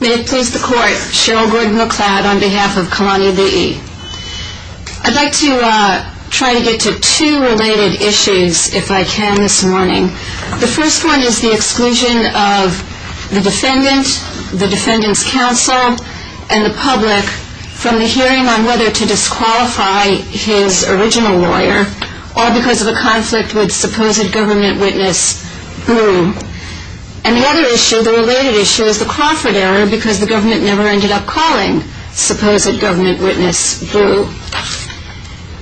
May it please the court, Cheryl Gordon-McLeod on behalf of Kalani V.E. I'd like to try to get to two related issues, if I can, this morning. The first one is the exclusion of the defendant, the defendant's counsel, and the public from the hearing on whether to disqualify his original lawyer, all because of a conflict with supposed government witness Boone. And the other issue, the related issue, is the Crawford error, because the government never ended up calling supposed government witness Boone.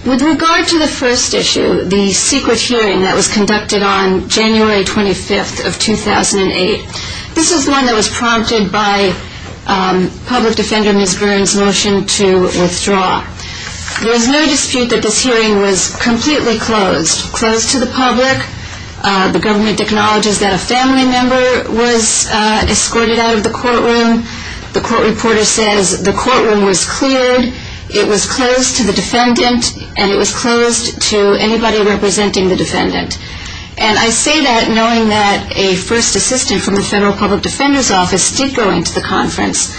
With regard to the first issue, the secret hearing that was conducted on January 25th of 2008, this is one that was prompted by public defender Ms. Boone's motion to withdraw. There was no dispute that this hearing was completely closed, closed to the public. The government acknowledges that a family member was escorted out of the courtroom. The court reporter says the courtroom was cleared, it was closed to the defendant, and it was closed to anybody representing the defendant. And I say that knowing that a first assistant from the federal public defender's office did go into the conference.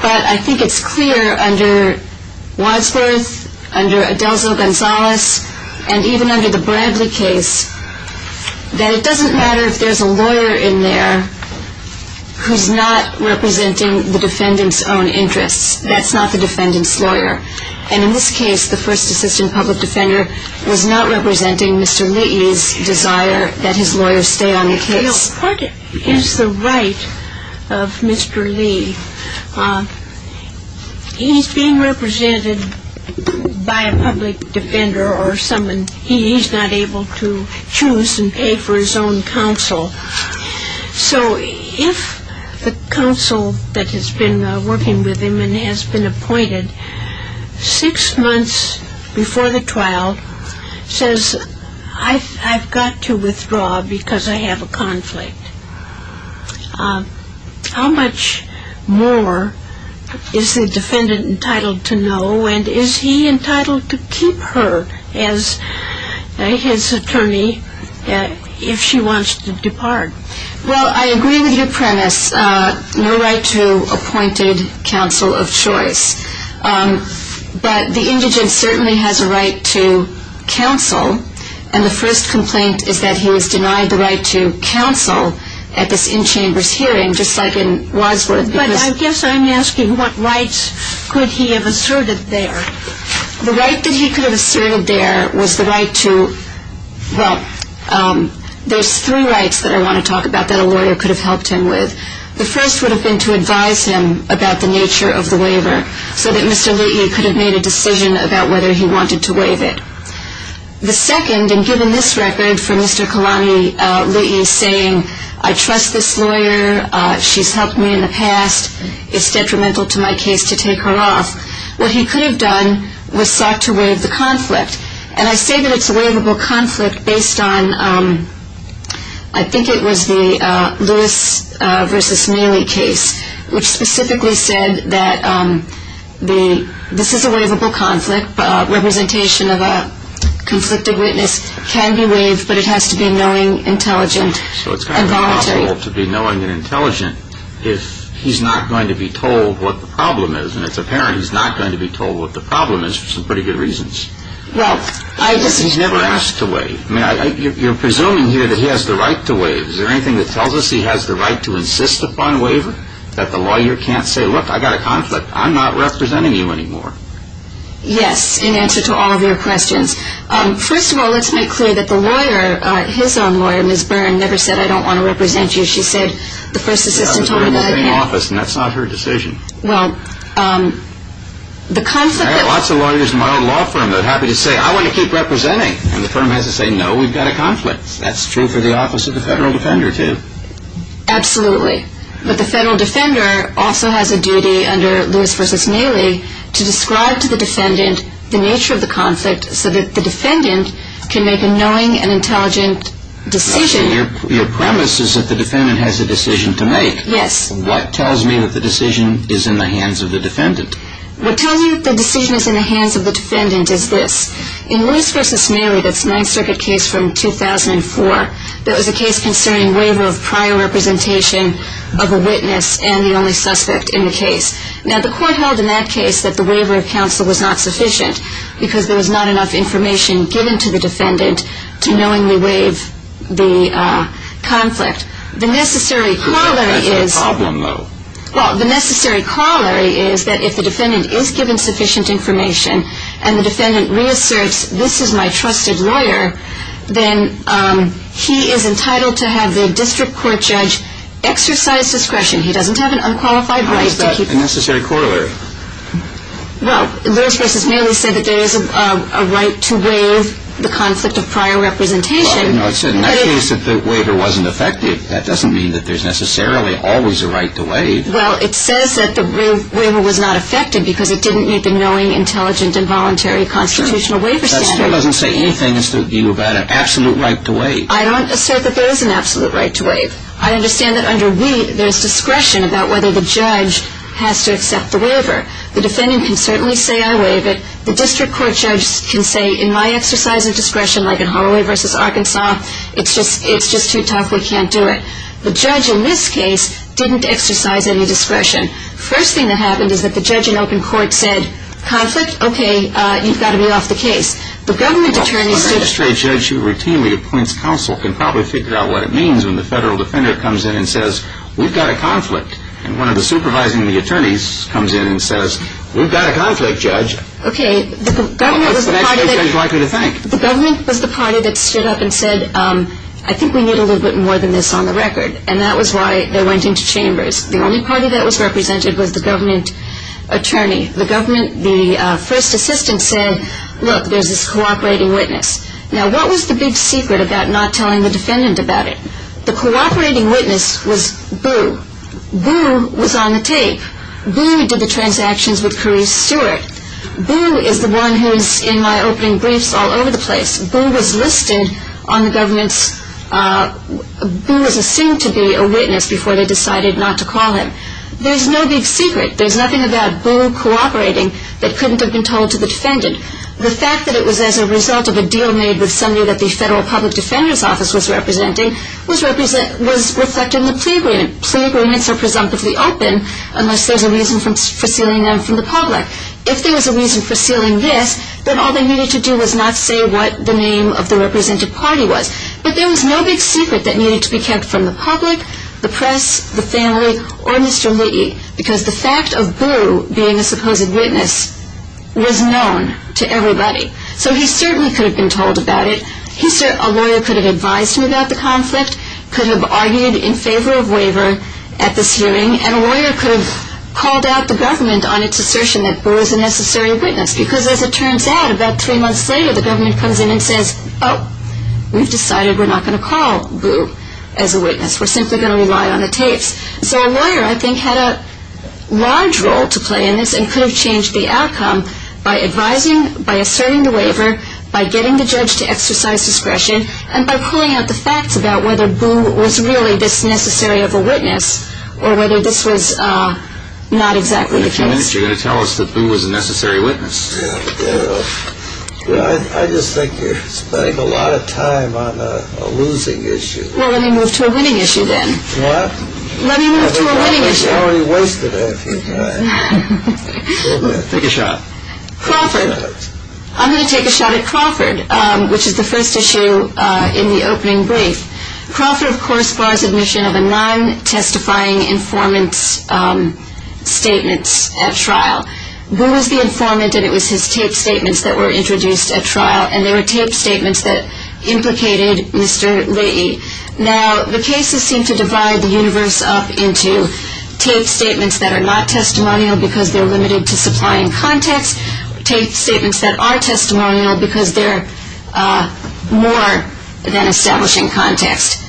But I think it's clear under Wadsworth, under Adelzo Gonzalez, and even under the Bradley case, that it doesn't matter if there's a lawyer in there who's not representing the defendant's own interests. That's not the defendant's lawyer. And in this case, the first assistant public defender was not representing Mr. Lee's desire that his lawyer stay on the case. You know, what is the right of Mr. Lee? He's being represented by a public defender or someone he's not able to choose and pay for his own counsel. So if the counsel that has been working with him and has been appointed, six months before the trial, says, I've got to withdraw because I have a conflict, how much more is the defendant entitled to know? And is he entitled to keep her as his attorney if she wants to depart? Well, I agree with your premise, no right to appointed counsel of choice. But the indigent certainly has a right to counsel. And the first complaint is that he was denied the right to counsel at this in-chambers hearing, just like in Wadsworth. But I guess I'm asking what rights could he have asserted there? The right that he could have asserted there was the right to, well, there's three rights that I want to talk about that a lawyer could have helped him with. The first would have been to advise him about the nature of the waiver so that Mr. Lee could have made a decision about whether he wanted to waive it. The second, and given this record for Mr. Kalani Lee saying, I trust this lawyer, she's helped me in the past, it's detrimental to my case to take her off, what he could have done was sought to waive the conflict. And I say that it's a waivable conflict based on, I think it was the Lewis v. Mealy case, which specifically said that this is a waivable conflict, representation of a conflicted witness can be waived, but it has to be knowing, intelligent, and voluntary. It has to be knowing and intelligent if he's not going to be told what the problem is, and it's apparent he's not going to be told what the problem is for some pretty good reasons. He's never asked to waive. You're presuming here that he has the right to waive. Is there anything that tells us he has the right to insist upon waiver, that the lawyer can't say, look, I've got a conflict, I'm not representing you anymore? Yes, in answer to all of your questions. First of all, let's make clear that the lawyer, his own lawyer, Ms. Byrne, never said I don't want to represent you. She said the first assistant told her that I can't. That's not her decision. Well, the conflict... I have lots of lawyers in my own law firm that are happy to say, I want to keep representing, and the firm has to say, no, we've got a conflict. That's true for the Office of the Federal Defender, too. Absolutely. But the Federal Defender also has a duty under Lewis v. Mealy to describe to the defendant the nature of the conflict so that the defendant can make a knowing and intelligent decision. Your premise is that the defendant has a decision to make. Yes. What tells me that the decision is in the hands of the defendant? What tells you the decision is in the hands of the defendant is this. In Lewis v. Mealy, that's a Ninth Circuit case from 2004, that was a case concerning waiver of prior representation of a witness and the only suspect in the case. Now, the court held in that case that the waiver of counsel was not sufficient because there was not enough information given to the defendant to knowingly waive the conflict. The necessary corollary is... That's a problem, though. Well, the necessary corollary is that if the defendant is given sufficient information and the defendant reasserts, this is my trusted lawyer, then he is entitled to have the district court judge exercise discretion. He doesn't have an unqualified right to keep... How is that a necessary corollary? Well, Lewis v. Mealy said that there is a right to waive the conflict of prior representation. Well, no, it said in that case that the waiver wasn't effective. That doesn't mean that there's necessarily always a right to waive. Well, it says that the waiver was not effective because it didn't meet the knowing, intelligent, and voluntary constitutional waiver standards. That still doesn't say anything as to whether you have an absolute right to waive. I don't assert that there is an absolute right to waive. I understand that under we, there's discretion about whether the judge has to accept the waiver. The defendant can certainly say, I waive it. The district court judge can say, in my exercise of discretion, like in Holloway v. Arkansas, it's just too tough, we can't do it. The judge in this case didn't exercise any discretion. First thing that happened is that the judge in open court said, conflict, okay, you've got to be off the case. The government attorneys... The magistrate judge who routinely appoints counsel can probably figure out what it means when the federal defender comes in and says, we've got a conflict. And one of the supervising attorneys comes in and says, we've got a conflict, judge. What's the magistrate judge likely to think? The government was the party that stood up and said, I think we need a little bit more than this on the record. And that was why they went into chambers. The only party that was represented was the government attorney. The first assistant said, look, there's this cooperating witness. Now, what was the big secret about not telling the defendant about it? The cooperating witness was Boo. Boo was on the tape. Boo did the transactions with Carice Stewart. Boo is the one who's in my opening briefs all over the place. Boo was listed on the government's... Boo was assumed to be a witness before they decided not to call him. There's no big secret. There's nothing about Boo cooperating that couldn't have been told to the defendant. The fact that it was as a result of a deal made with somebody that the Federal Public Defender's Office was representing was reflected in the plea agreement. Plea agreements are presumptively open unless there's a reason for sealing them from the public. If there was a reason for sealing this, then all they needed to do was not say what the name of the represented party was. But there was no big secret that needed to be kept from the public, the press, the family, or Mr. Lee because the fact of Boo being a supposed witness was known to everybody. So he certainly could have been told about it. A lawyer could have advised him about the conflict, could have argued in favor of waiver at this hearing, and a lawyer could have called out the government on its assertion that Boo is a necessary witness because as it turns out, about three months later, the government comes in and says, oh, we've decided we're not going to call Boo as a witness. We're simply going to rely on the tapes. So a lawyer, I think, had a large role to play in this and could have changed the outcome by advising, by asserting the waiver, by getting the judge to exercise discretion, and by pulling out the facts about whether Boo was really this necessary of a witness or whether this was not exactly the case. In a few minutes, you're going to tell us that Boo was a necessary witness. Yeah, but I just think you're spending a lot of time on a losing issue. Well, let me move to a winning issue then. What? Let me move to a winning issue. I've already wasted a few minutes. Take a shot. Crawford. I'm going to take a shot at Crawford, which is the first issue in the opening brief. Crawford, of course, bars admission of a non-testifying informant's statements at trial. Boo was the informant, and it was his taped statements that were introduced at trial, and they were taped statements that implicated Mr. Leahy. Now, the cases seem to divide the universe up into taped statements that are not testimonial because they're limited to supplying context, taped statements that are testimonial because they're more than establishing context.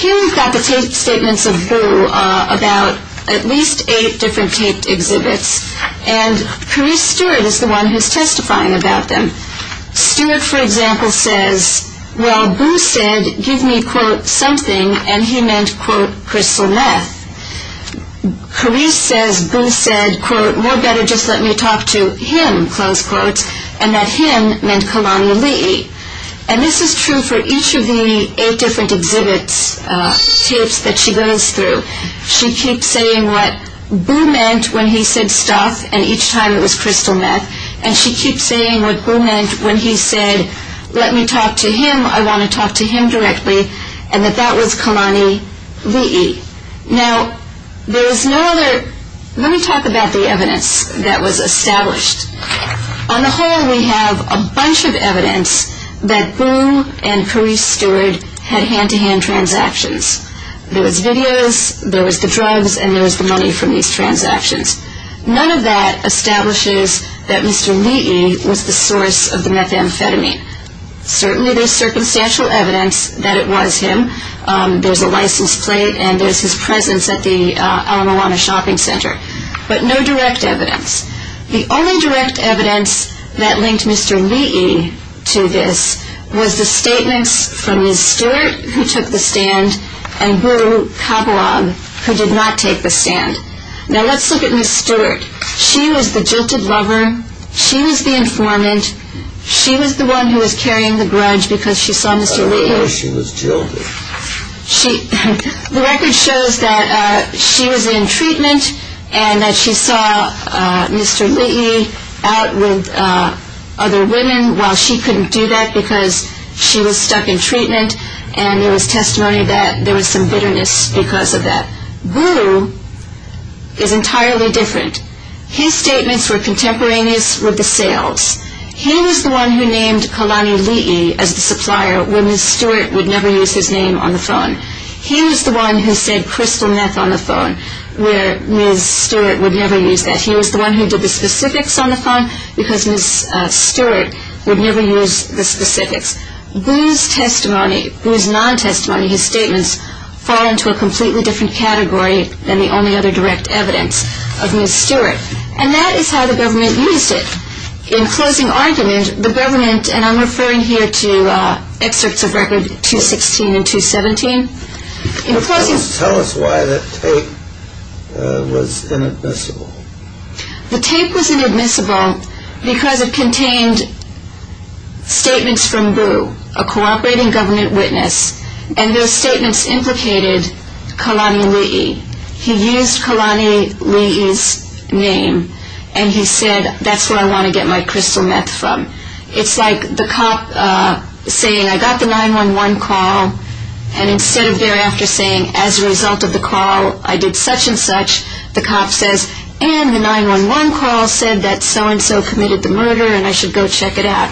Here we've got the taped statements of Boo about at least eight different taped exhibits, and Carice Stewart is the one who's testifying about them. Stewart, for example, says, well, Boo said give me, quote, something, and he meant, quote, crystal meth. Carice says Boo said, quote, more better just let me talk to him, close quotes, and that him meant Kalani Leahy. And this is true for each of the eight different exhibits, tapes that she goes through. She keeps saying what Boo meant when he said stuff and each time it was crystal meth, and she keeps saying what Boo meant when he said let me talk to him, I want to talk to him directly, and that that was Kalani Leahy. Now, there's no other, let me talk about the evidence that was established. On the whole, we have a bunch of evidence that Boo and Carice Stewart had hand-to-hand transactions. There was videos, there was the drugs, and there was the money from these transactions. None of that establishes that Mr. Leahy was the source of the methamphetamine. Certainly there's circumstantial evidence that it was him. There's a license plate, and there's his presence at the Ala Moana Shopping Center. But no direct evidence. The only direct evidence that linked Mr. Leahy to this was the statements from Ms. Stewart, who took the stand, and Boo Kabuag, who did not take the stand. Now, let's look at Ms. Stewart. She was the jilted lover. She was the informant. She was the one who was carrying the grudge because she saw Mr. Leahy. I don't know why she was jilted. The record shows that she was in treatment and that she saw Mr. Leahy out with other women, while she couldn't do that because she was stuck in treatment, and there was testimony that there was some bitterness because of that. Boo is entirely different. His statements were contemporaneous with the sales. He was the one who named Kalani Leahy as the supplier, where Ms. Stewart would never use his name on the phone. He was the one who said crystal meth on the phone, where Ms. Stewart would never use that. He was the one who did the specifics on the phone because Ms. Stewart would never use the specifics. Boo's testimony, Boo's non-testimony, his statements, fall into a completely different category than the only other direct evidence of Ms. Stewart. And that is how the government used it. In closing argument, the government, and I'm referring here to excerpts of Record 216 and 217. Can you tell us why that tape was inadmissible? The tape was inadmissible because it contained statements from Boo, a cooperating government witness, and those statements implicated Kalani Leahy. He used Kalani Leahy's name, and he said, that's where I want to get my crystal meth from. It's like the cop saying, I got the 911 call, and instead of thereafter saying, as a result of the call, I did such and such, the cop says, and the 911 call said that so-and-so committed the murder, and I should go check it out.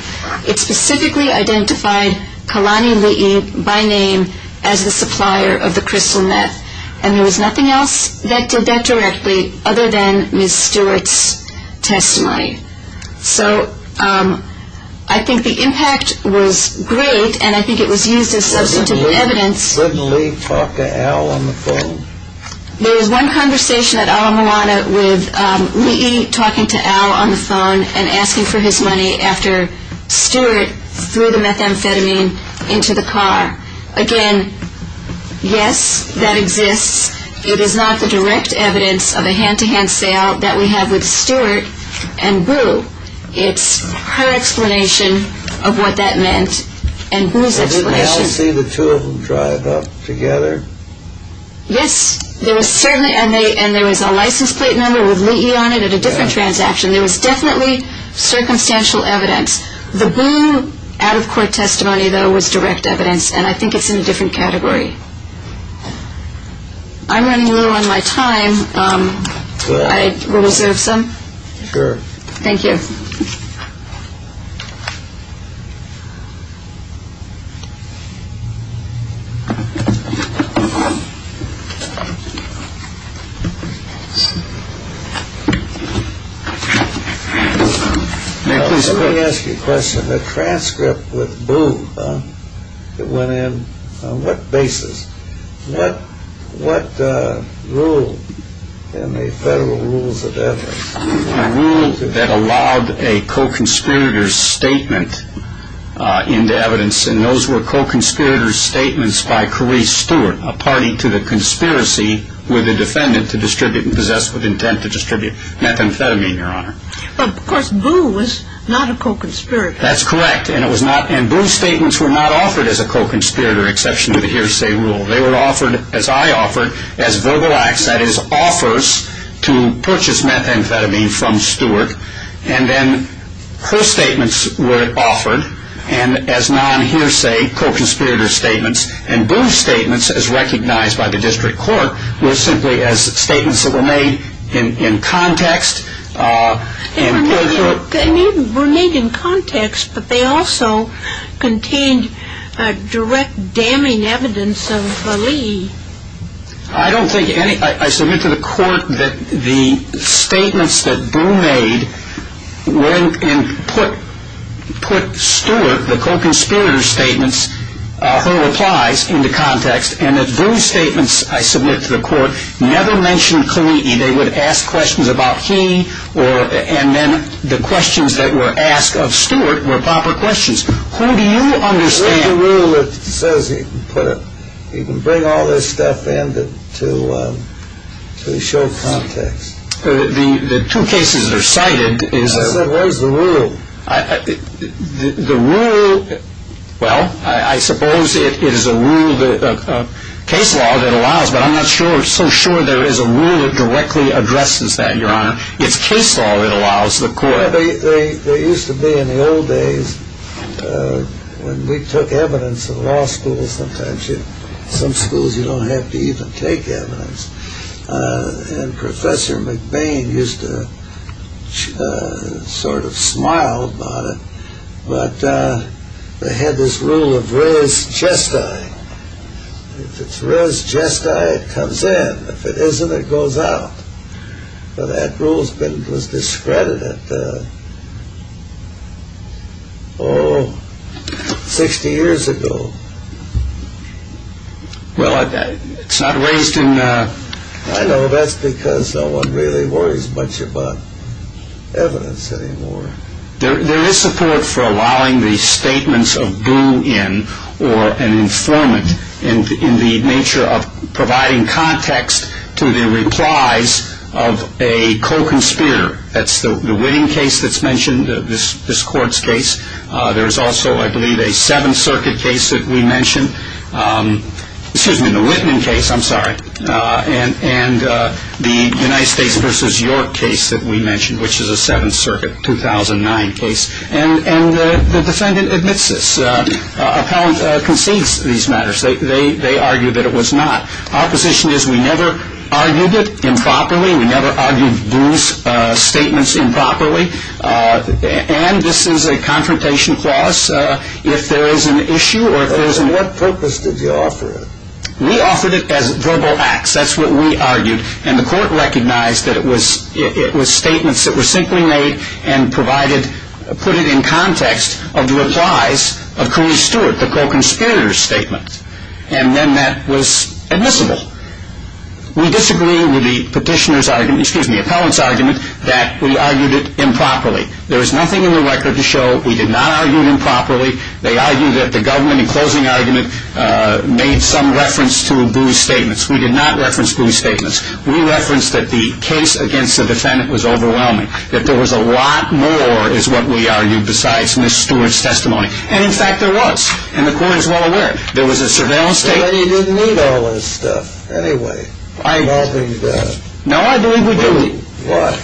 It specifically identified Kalani Leahy by name as the supplier of the crystal meth. And there was nothing else that did that directly other than Ms. Stewart's testimony. So I think the impact was great, and I think it was used as substantive evidence. Did you suddenly talk to Al on the phone? There was one conversation at Ala Moana with Leahy talking to Al on the phone and asking for his money after Stewart threw the methamphetamine into the car. Again, yes, that exists. It is not the direct evidence of a hand-to-hand sale that we have with Stewart and Boo. It's her explanation of what that meant and Boo's explanation. Didn't Al see the two of them driving off together? Yes, there was certainly, and there was a license plate number with Leahy on it at a different transaction. There was definitely circumstantial evidence. The Boo out-of-court testimony, though, was direct evidence, and I think it's in a different category. I'm running low on my time. I will reserve some. Sure. Thank you. May I please have a look? Let me ask you a question. The transcript with Boo that went in, on what basis? What rule in the federal rules of evidence? A rule that allowed a co-conspirator's statement into evidence, and those were co-conspirator's statements by Carice Stewart, a party to the conspiracy with a defendant to distribute and possess with intent to distribute methamphetamine, Your Honor. Of course, Boo was not a co-conspirator. That's correct, and Boo's statements were not offered as a co-conspirator, exception to the hearsay rule. They were offered, as I offered, as verbal acts, that is, offers to purchase methamphetamine from Stewart, and then her statements were offered as non-hearsay co-conspirator statements, and Boo's statements, as recognized by the district court, were simply as statements that were made in context. They were made in context, but they also contained direct damning evidence of Lee. I don't think any, I submit to the court that the statements that Boo made went and put Stewart, the co-conspirator statements, her replies into context, and that Boo's statements, I submit to the court, never mentioned Kaliti. They would ask questions about he, and then the questions that were asked of Stewart were proper questions. Who do you understand? Where's the rule that says you can bring all this stuff in to show context? The two cases that are cited is… I said where's the rule? The rule, well, I suppose it is a rule, a case law that allows, but I'm not so sure there is a rule that directly addresses that, Your Honor. It's case law that allows the court. They used to be, in the old days, when we took evidence in law schools, sometimes in some schools you don't have to even take evidence, and Professor McBain used to sort of smile about it, but they had this rule of res gestae. If it's res gestae, it comes in. If it isn't, it goes out. But that rule was discredited, oh, 60 years ago. Well, it's not raised in… I know, that's because no one really worries much about evidence anymore. There is support for allowing the statements of boo-in or an informant in the nature of providing context to the replies of a co-conspirator. That's the Whitman case that's mentioned, this court's case. There is also, I believe, a Seventh Circuit case that we mentioned. Excuse me, the Whitman case, I'm sorry, and the United States versus York case that we mentioned, which is a Seventh Circuit, 2009 case, and the defendant admits this, concedes these matters. They argue that it was not. Our position is we never argued it improperly. We never argued Boo's statements improperly, and this is a confrontation clause. If there is an issue or if there is… What purpose did you offer it? We offered it as verbal acts. That's what we argued, and the court recognized that it was statements that were simply made and provided, put it in context of the replies of Cooney Stewart, the co-conspirator's statement, and then that was admissible. We disagree with the petitioner's argument, excuse me, the appellant's argument that we argued it improperly. There is nothing in the record to show we did not argue it improperly. They argue that the government, in closing argument, made some reference to Boo's statements. We did not reference Boo's statements. We referenced that the case against the defendant was overwhelming, that there was a lot more, is what we argued, besides Ms. Stewart's testimony, and, in fact, there was, and the court is well aware of it. There was a surveillance statement. But you didn't need all this stuff anyway. I believe we do. Why?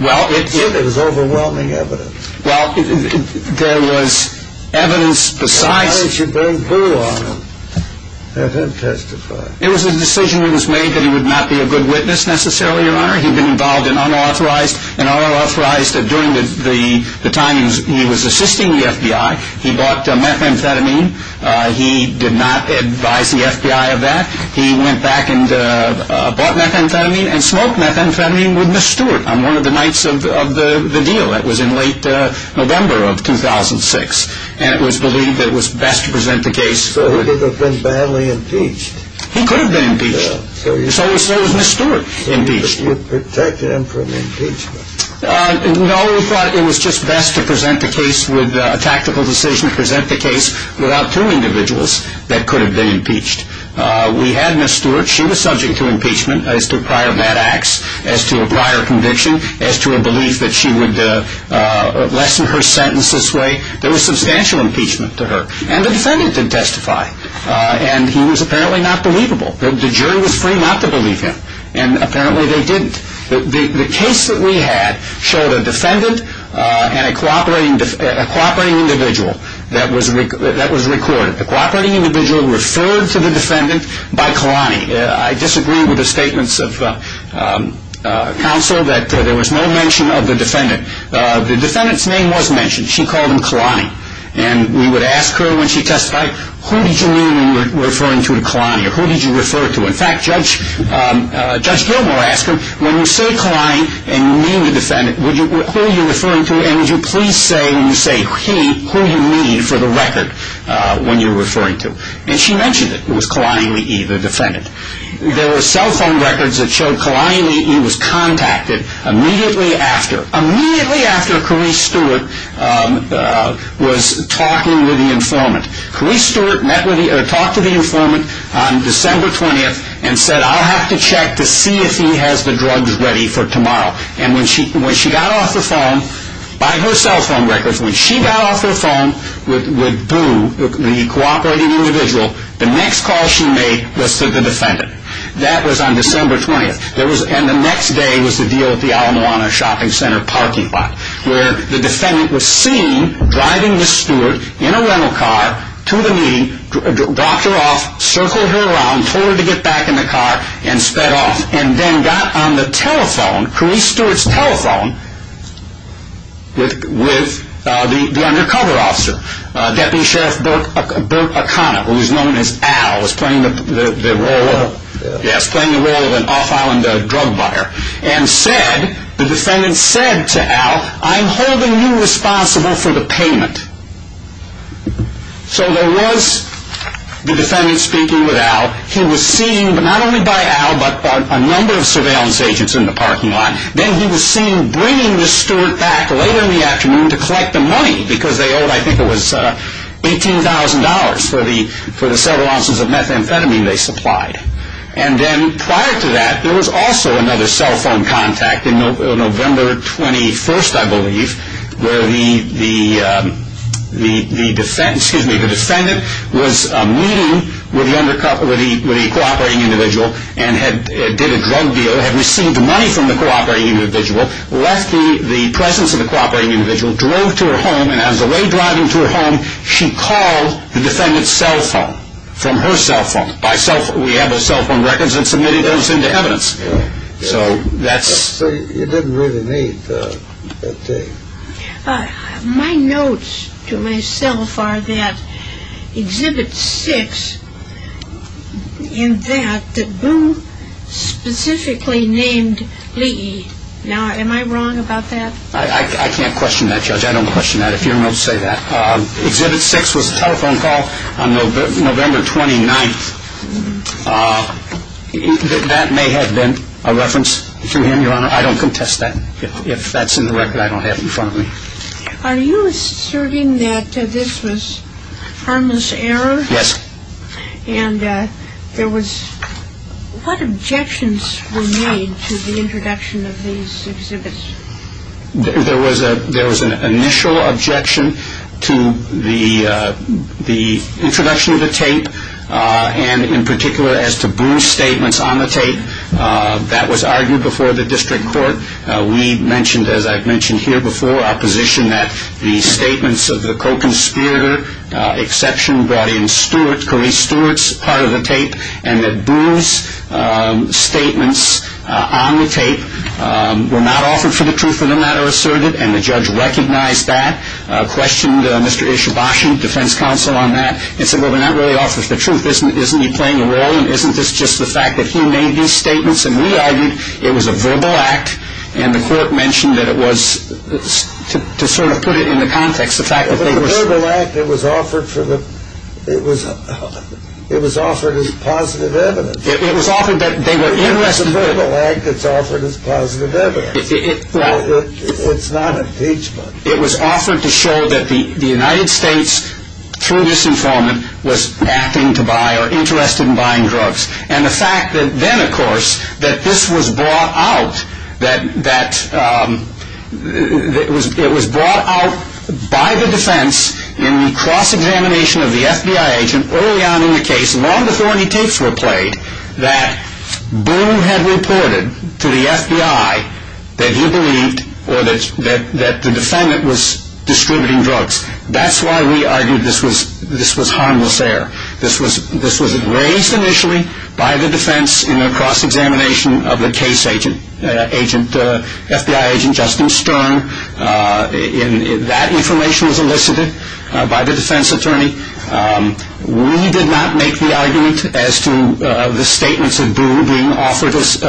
Well, it did. It was overwhelming evidence. Well, there was evidence besides... Why did you bring Boo on? Let him testify. It was a decision that was made that he would not be a good witness necessarily, Your Honor. He'd been involved in unauthorized, and unauthorized during the time he was assisting the FBI. He bought methamphetamine. He did not advise the FBI of that. He went back and bought methamphetamine and smoked methamphetamine with Ms. Stewart on one of the nights of the deal. That was in late November of 2006, and it was believed it was best to present the case... So he could have been badly impeached. He could have been impeached. So there was Ms. Stewart impeached. You protected him from impeachment. No, we thought it was just best to present the case with a tactical decision to present the case without two individuals that could have been impeached. We had Ms. Stewart. She was subject to impeachment as to prior bad acts, as to a prior conviction, as to a belief that she would lessen her sentence this way. There was substantial impeachment to her, and the defendant didn't testify, and he was apparently not believable. The jury was free not to believe him, and apparently they didn't. The case that we had showed a defendant and a cooperating individual that was recorded. The cooperating individual referred to the defendant by Kalani. I disagree with the statements of counsel that there was no mention of the defendant. The defendant's name was mentioned. She called him Kalani, and we would ask her when she testified, who did you mean when you were referring to Kalani, or who did you refer to? In fact, Judge Gilmore asked her, when you say Kalani and you mean the defendant, who are you referring to, and would you please say when you say he, who you mean for the record when you're referring to. And she mentioned it. It was Kalani Lee, the defendant. There were cell phone records that showed Kalani Lee. He was contacted immediately after. Immediately after Carice Stewart was talking with the informant. Carice Stewart talked to the informant on December 20th and said I'll have to check to see if he has the drugs ready for tomorrow. And when she got off the phone, by her cell phone records, when she got off her phone with Boo, the cooperating individual, the next call she made was to the defendant. That was on December 20th. And the next day was the deal at the Alamoana Shopping Center parking lot, where the defendant was seen driving Ms. Stewart in a rental car to the meeting, dropped her off, circled her around, told her to get back in the car, and sped off. And then got on the telephone, Carice Stewart's telephone, with the undercover officer, Deputy Sheriff Burt O'Connor, who is known as Al, was playing the role of an off-island drug buyer. And said, the defendant said to Al, I'm holding you responsible for the payment. So there was the defendant speaking with Al. He was seen, not only by Al, but by a number of surveillance agents in the parking lot. to collect the money, because they owed, I think it was $18,000, for the several ounces of methamphetamine they supplied. And then prior to that, there was also another cell phone contact, in November 21st, I believe, where the defendant was meeting with the cooperating individual, and did a drug deal, had received money from the cooperating individual, left the presence of the cooperating individual, drove to her home, and as the way driving to her home, she called the defendant's cell phone, from her cell phone, by cell phone, we have the cell phone records, and submitted those into evidence. So that's... My notes to myself are that, Exhibit 6, in that, that Boone specifically named Lee. Now, am I wrong about that? I can't question that, Judge. I don't question that, if your notes say that. Exhibit 6 was a telephone call, on November 29th. That may have been a reference to him, Your Honor. I don't contest that, if that's in the record I don't have in front of me. Are you asserting that this was harmless error? Yes. And there was... What objections were made, to the introduction of these exhibits? There was an initial objection, to the introduction of the tape, and in particular, as to Boone's statements on the tape. That was argued before the District Court. We mentioned, as I've mentioned here before, our position that, the statements of the co-conspirator, exception brought in Stewart, Kareese Stewart's part of the tape, and that Boone's statements, on the tape, were not offered for the truth of the matter asserted, and the judge recognized that, questioned Mr. Ishabashian, defense counsel on that, and said, well they're not really offering the truth, isn't he playing a role, and isn't this just the fact, that he made these statements, and we argued, it was a verbal act, and the court mentioned that it was, to sort of put it in the context, the fact that they were... It was a verbal act, it was offered for the, it was offered as positive evidence. It was offered that they were interested... It's not impeachment. It was offered to show that the United States, through disinformant, was acting to buy, or interested in buying drugs, and the fact that then of course, that this was brought out, that it was brought out by the defense, in the cross-examination of the FBI agent, early on in the case, long before any tapes were played, that Boone had reported, to the FBI, that he believed, or that the defendant, was distributing drugs. That's why we argued, this was harmless air. This was raised initially, by the defense, in the cross-examination of the case agent, FBI agent Justin Stern, and that information was elicited, by the defense attorney. We did not make the argument, as to the statements of Boone, being offered as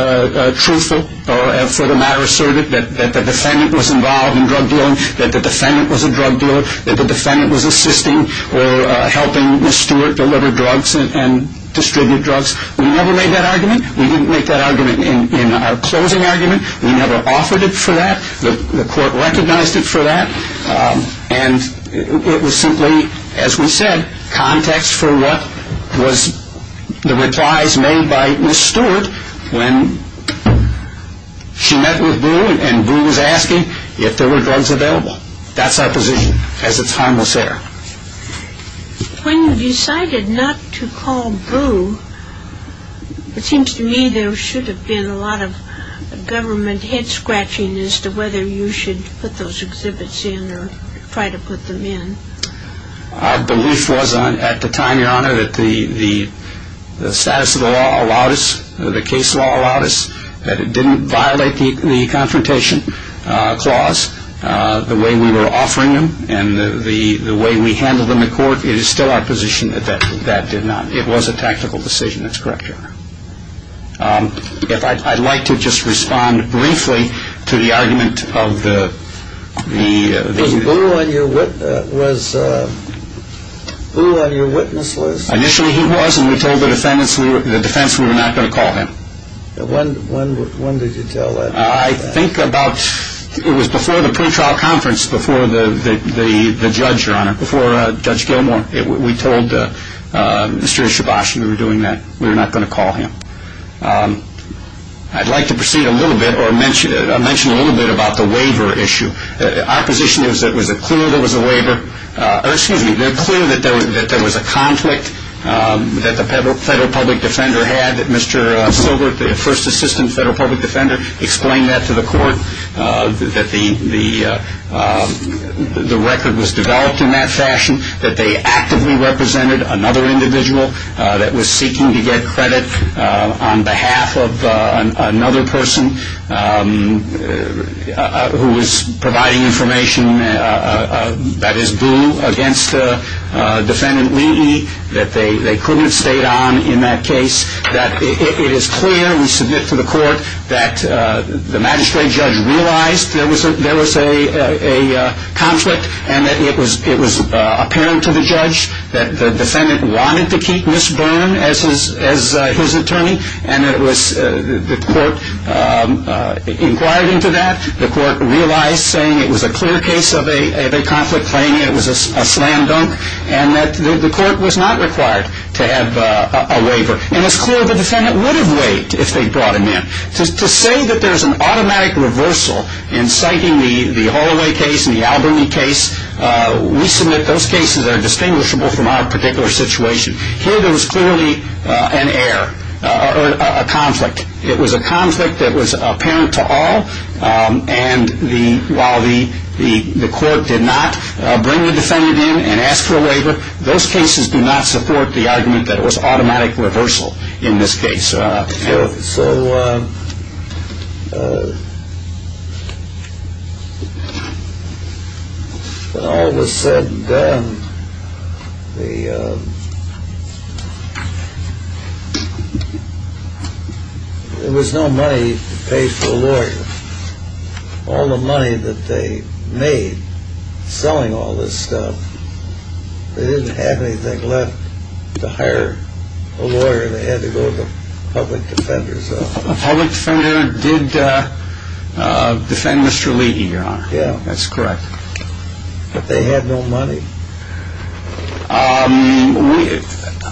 truthful, or for the matter asserted, that the defendant was involved in drug dealing, that the defendant was a drug dealer, that the defendant was assisting, or helping Ms. Stewart deliver drugs, and distribute drugs. We never made that argument. We didn't make that argument, in our closing argument. We never offered it for that. The court recognized it for that, and it was simply, as we said, for what was the replies, made by Ms. Stewart, when she met with Boone, and Boone was asking, if there were drugs available. That's our position, as it's harmless air. When you decided not to call Boone, it seems to me, there should have been a lot of, government head scratching, as to whether you should, put those exhibits in, or try to put them in. Our belief was, at the time your honor, that the status of the law, allowed us, the case law allowed us, that it didn't violate, the confrontation clause, the way we were offering them, and the way we handled them in court, it is still our position, that that did not, it was a tactical decision. That's correct your honor. If I'd like to just respond briefly, to the argument of the... Boone on your witness list... Initially he was, and we told the defense, we were not going to call him. When did you tell that? I think about, it was before the pre-trial conference, before the judge your honor, before Judge Gilmore, we told Mr. Shabash, we were doing that, we were not going to call him. I'd like to proceed a little bit, or mention a little bit, about the waiver issue. Our position is, it was clear there was a waiver, or excuse me, it was clear that there was a conflict, that the federal public defender had, that Mr. Silbert, the first assistant federal public defender, explained that to the court, that the record was developed in that fashion, that they actively represented another individual, that was seeking to get credit, on behalf of another person, who was providing information, that is boo, against defendant Lee, that they couldn't have stayed on in that case, that it is clear, we submit to the court, that the magistrate judge realized, there was a conflict, and that it was apparent to the judge, that the defendant wanted to keep Ms. Byrne, as his attorney, and it was, the court inquired into that, the court realized, saying it was a clear case of a conflict claim, it was a slam dunk, and that the court was not required, to have a waiver, and it's clear the defendant would have waited, if they brought him in. To say that there's an automatic reversal, in citing the Holloway case, and the Albany case, we submit those cases are distinguishable, from our particular situation. Here there was clearly an error, or a conflict, it was a conflict, that was apparent to all, and the, while the court did not, bring the defendant in, and ask for a waiver, those cases do not support the argument, that it was automatic reversal, in this case. So, all of a sudden, the, there was no money, to pay for a lawyer, all the money that they, made, selling all this stuff, they didn't have anything left, to hire, a lawyer, and they had to go to the, public defender, so. The public defender, did, defend Mr. Leedy, your honor. Yeah. That's correct. But they had no money. We,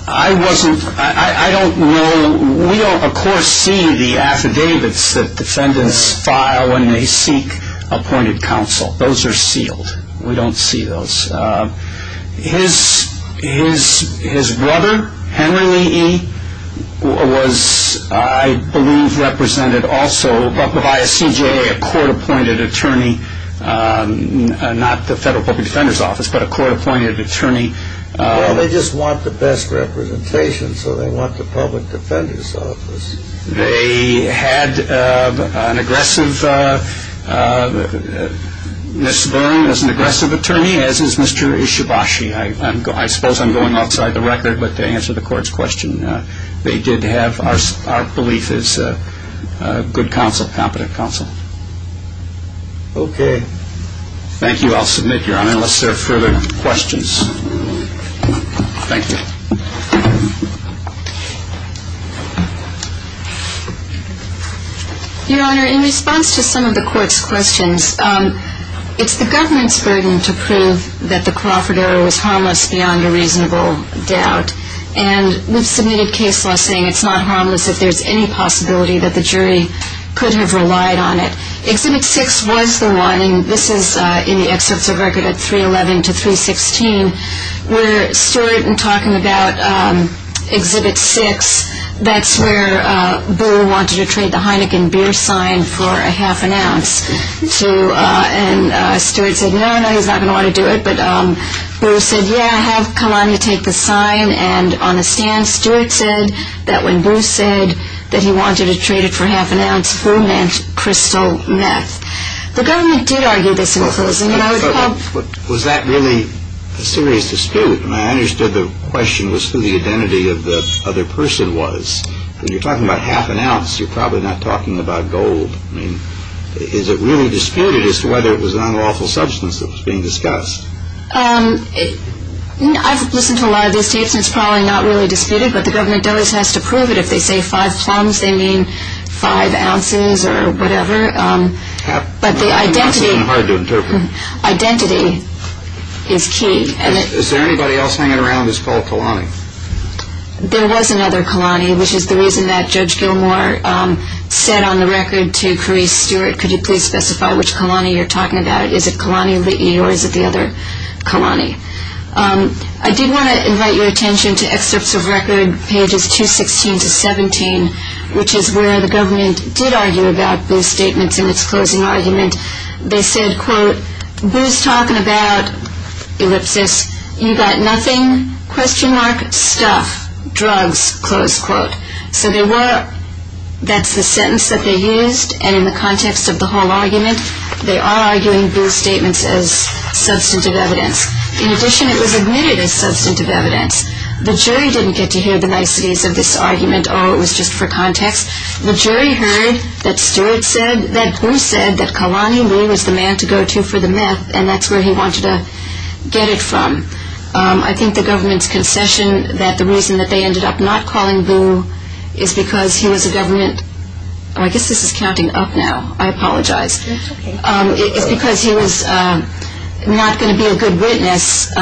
I wasn't, I don't know, we don't, of course, see the affidavits, that defendants, file, when they seek, appointed counsel, those are sealed, we don't see those. His, his, his brother, Henry Lee, was, I believe, represented also, by a CJA, a court appointed attorney, not the federal public defenders office, but a court appointed attorney. Well, they just want the best representation, so they want the public defenders office. They, had, an aggressive, Ms. Leary was an aggressive attorney, as is Mr. Ishibashi, I suppose I'm going outside the record, but to answer the court's question, they did have, our belief is, good counsel, competent counsel. Okay. Thank you, I'll submit your honor, unless there are further questions. Thank you. Your honor, in response to some of the court's questions, it's the government's burden to prove, that the Crawford error was harmless, beyond a reasonable doubt, and we've submitted case law saying, it's not harmless if there's any possibility, that the jury, could have relied on it. Exhibit six was the one, and this is, in the excerpts of record at 311 to 316, where Stewart had been talking about, exhibit six, that's where, Boo wanted to trade the Heineken beer sign, for a half an ounce, to, and Stewart said, no, no, he's not going to want to do it, but Boo said, yeah, I have come on to take the sign, and on the stand, Stewart said, that when Boo said, that he wanted to trade it for half an ounce, Boo meant crystal meth. The government did argue this in closing, but I would hope, Was that really, a serious dispute, and I understood the question was, who the identity of the other person was, when you're talking about half an ounce, you're probably not talking about gold, I mean, is it really disputed, as to whether it was an unlawful substance, that was being discussed? I've listened to a lot of these tapes, and it's probably not really disputed, but the government does has to prove it, if they say five plums, they mean, five ounces, or whatever, but the identity, Hard to interpret. Identity, is key. Is there anybody else, hanging around, who's called Kalani? There was another Kalani, which is the reason, that Judge Gilmore, said on the record, to Carice Stewart, could you please specify, which Kalani you're talking about, is it Kalani Lee, or is it the other Kalani? I did want to invite your attention, to excerpts of record, pages 216 to 17, which is where the government, did argue about Boo's statements, in it's closing argument, they said, quote, Boo's talking about, ellipsis, you got nothing, question mark, stuff, drugs, close quote, so there were, that's the sentence, that they used, and in the context, of the whole argument, they are arguing, Boo's statements, as substantive evidence, in addition, it was admitted, as substantive evidence, the jury didn't get to hear, the niceties of this argument, or it was just for context, the jury heard, that Stewart said, that Boo said, that Kalani Lee, was the man to go to, for the meth, and that's where, he wanted to, get it from, I think the government's, concession, that the reason, that they ended up, not calling Boo, is because, he was a government, I guess this is, counting up now, I apologize, it's because he was, not going to be, a good witness,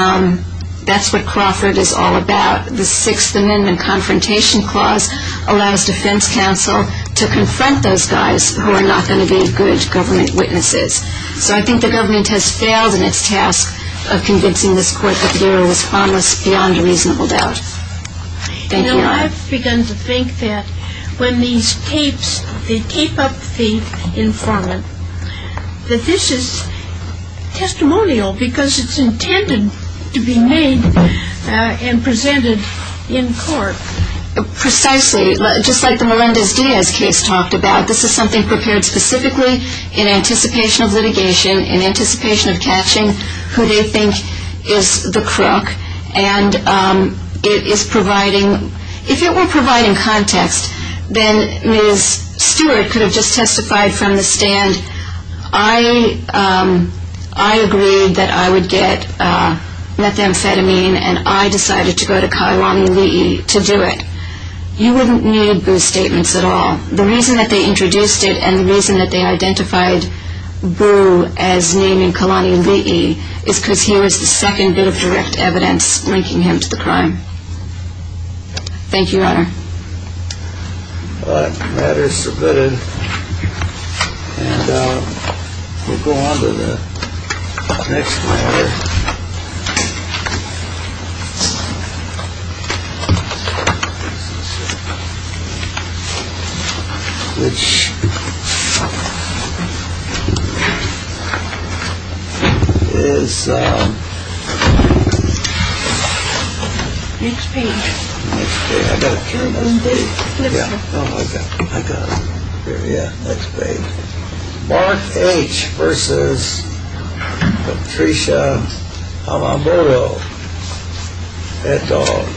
that's what Crawford, the 6th amendment, confrontation clause, allows defense counsel, to confront those guys, who are not going to be, good government witnesses, so I think the government, has failed in it's task, of convincing this court, that the jury was harmless, beyond a reasonable doubt, thank you. Now I've begun to think, that when these tapes, they tape up the informant, that this is testimonial, because it's intended, to be made, and presented in court, precisely, just like the Melendez Diaz, and anticipation, of litigation, and anticipation, of litigation, and anticipation, of litigation, and anticipation, of litigation, and anticipation, of litigation, and anticipation, and anticipation, of catching, who they think is, the crook, and it is providing, if there were providing, context, then Ms. Stewart, could have just, testified from the stand, I agreed, that I would get, methamphetamine, and I decided, to go to, Kailuaali, to do it. that they introduced it, and the reason, that they identified, Boo, as named Boo, because his name, was in the, evidence so it, had been found, in Kailuaali, is because he was, the second bit, of direct evidence, linking him to the crime. Thank you, your honor. Alright, matter is submitted, and, we'll go on, to the, next matter, which, is, next page, next page, I got to carry, next page, yeah, oh my god, I got it, here yeah, next page, Mark H. versus, Patricia, Alomero, et al. Next page,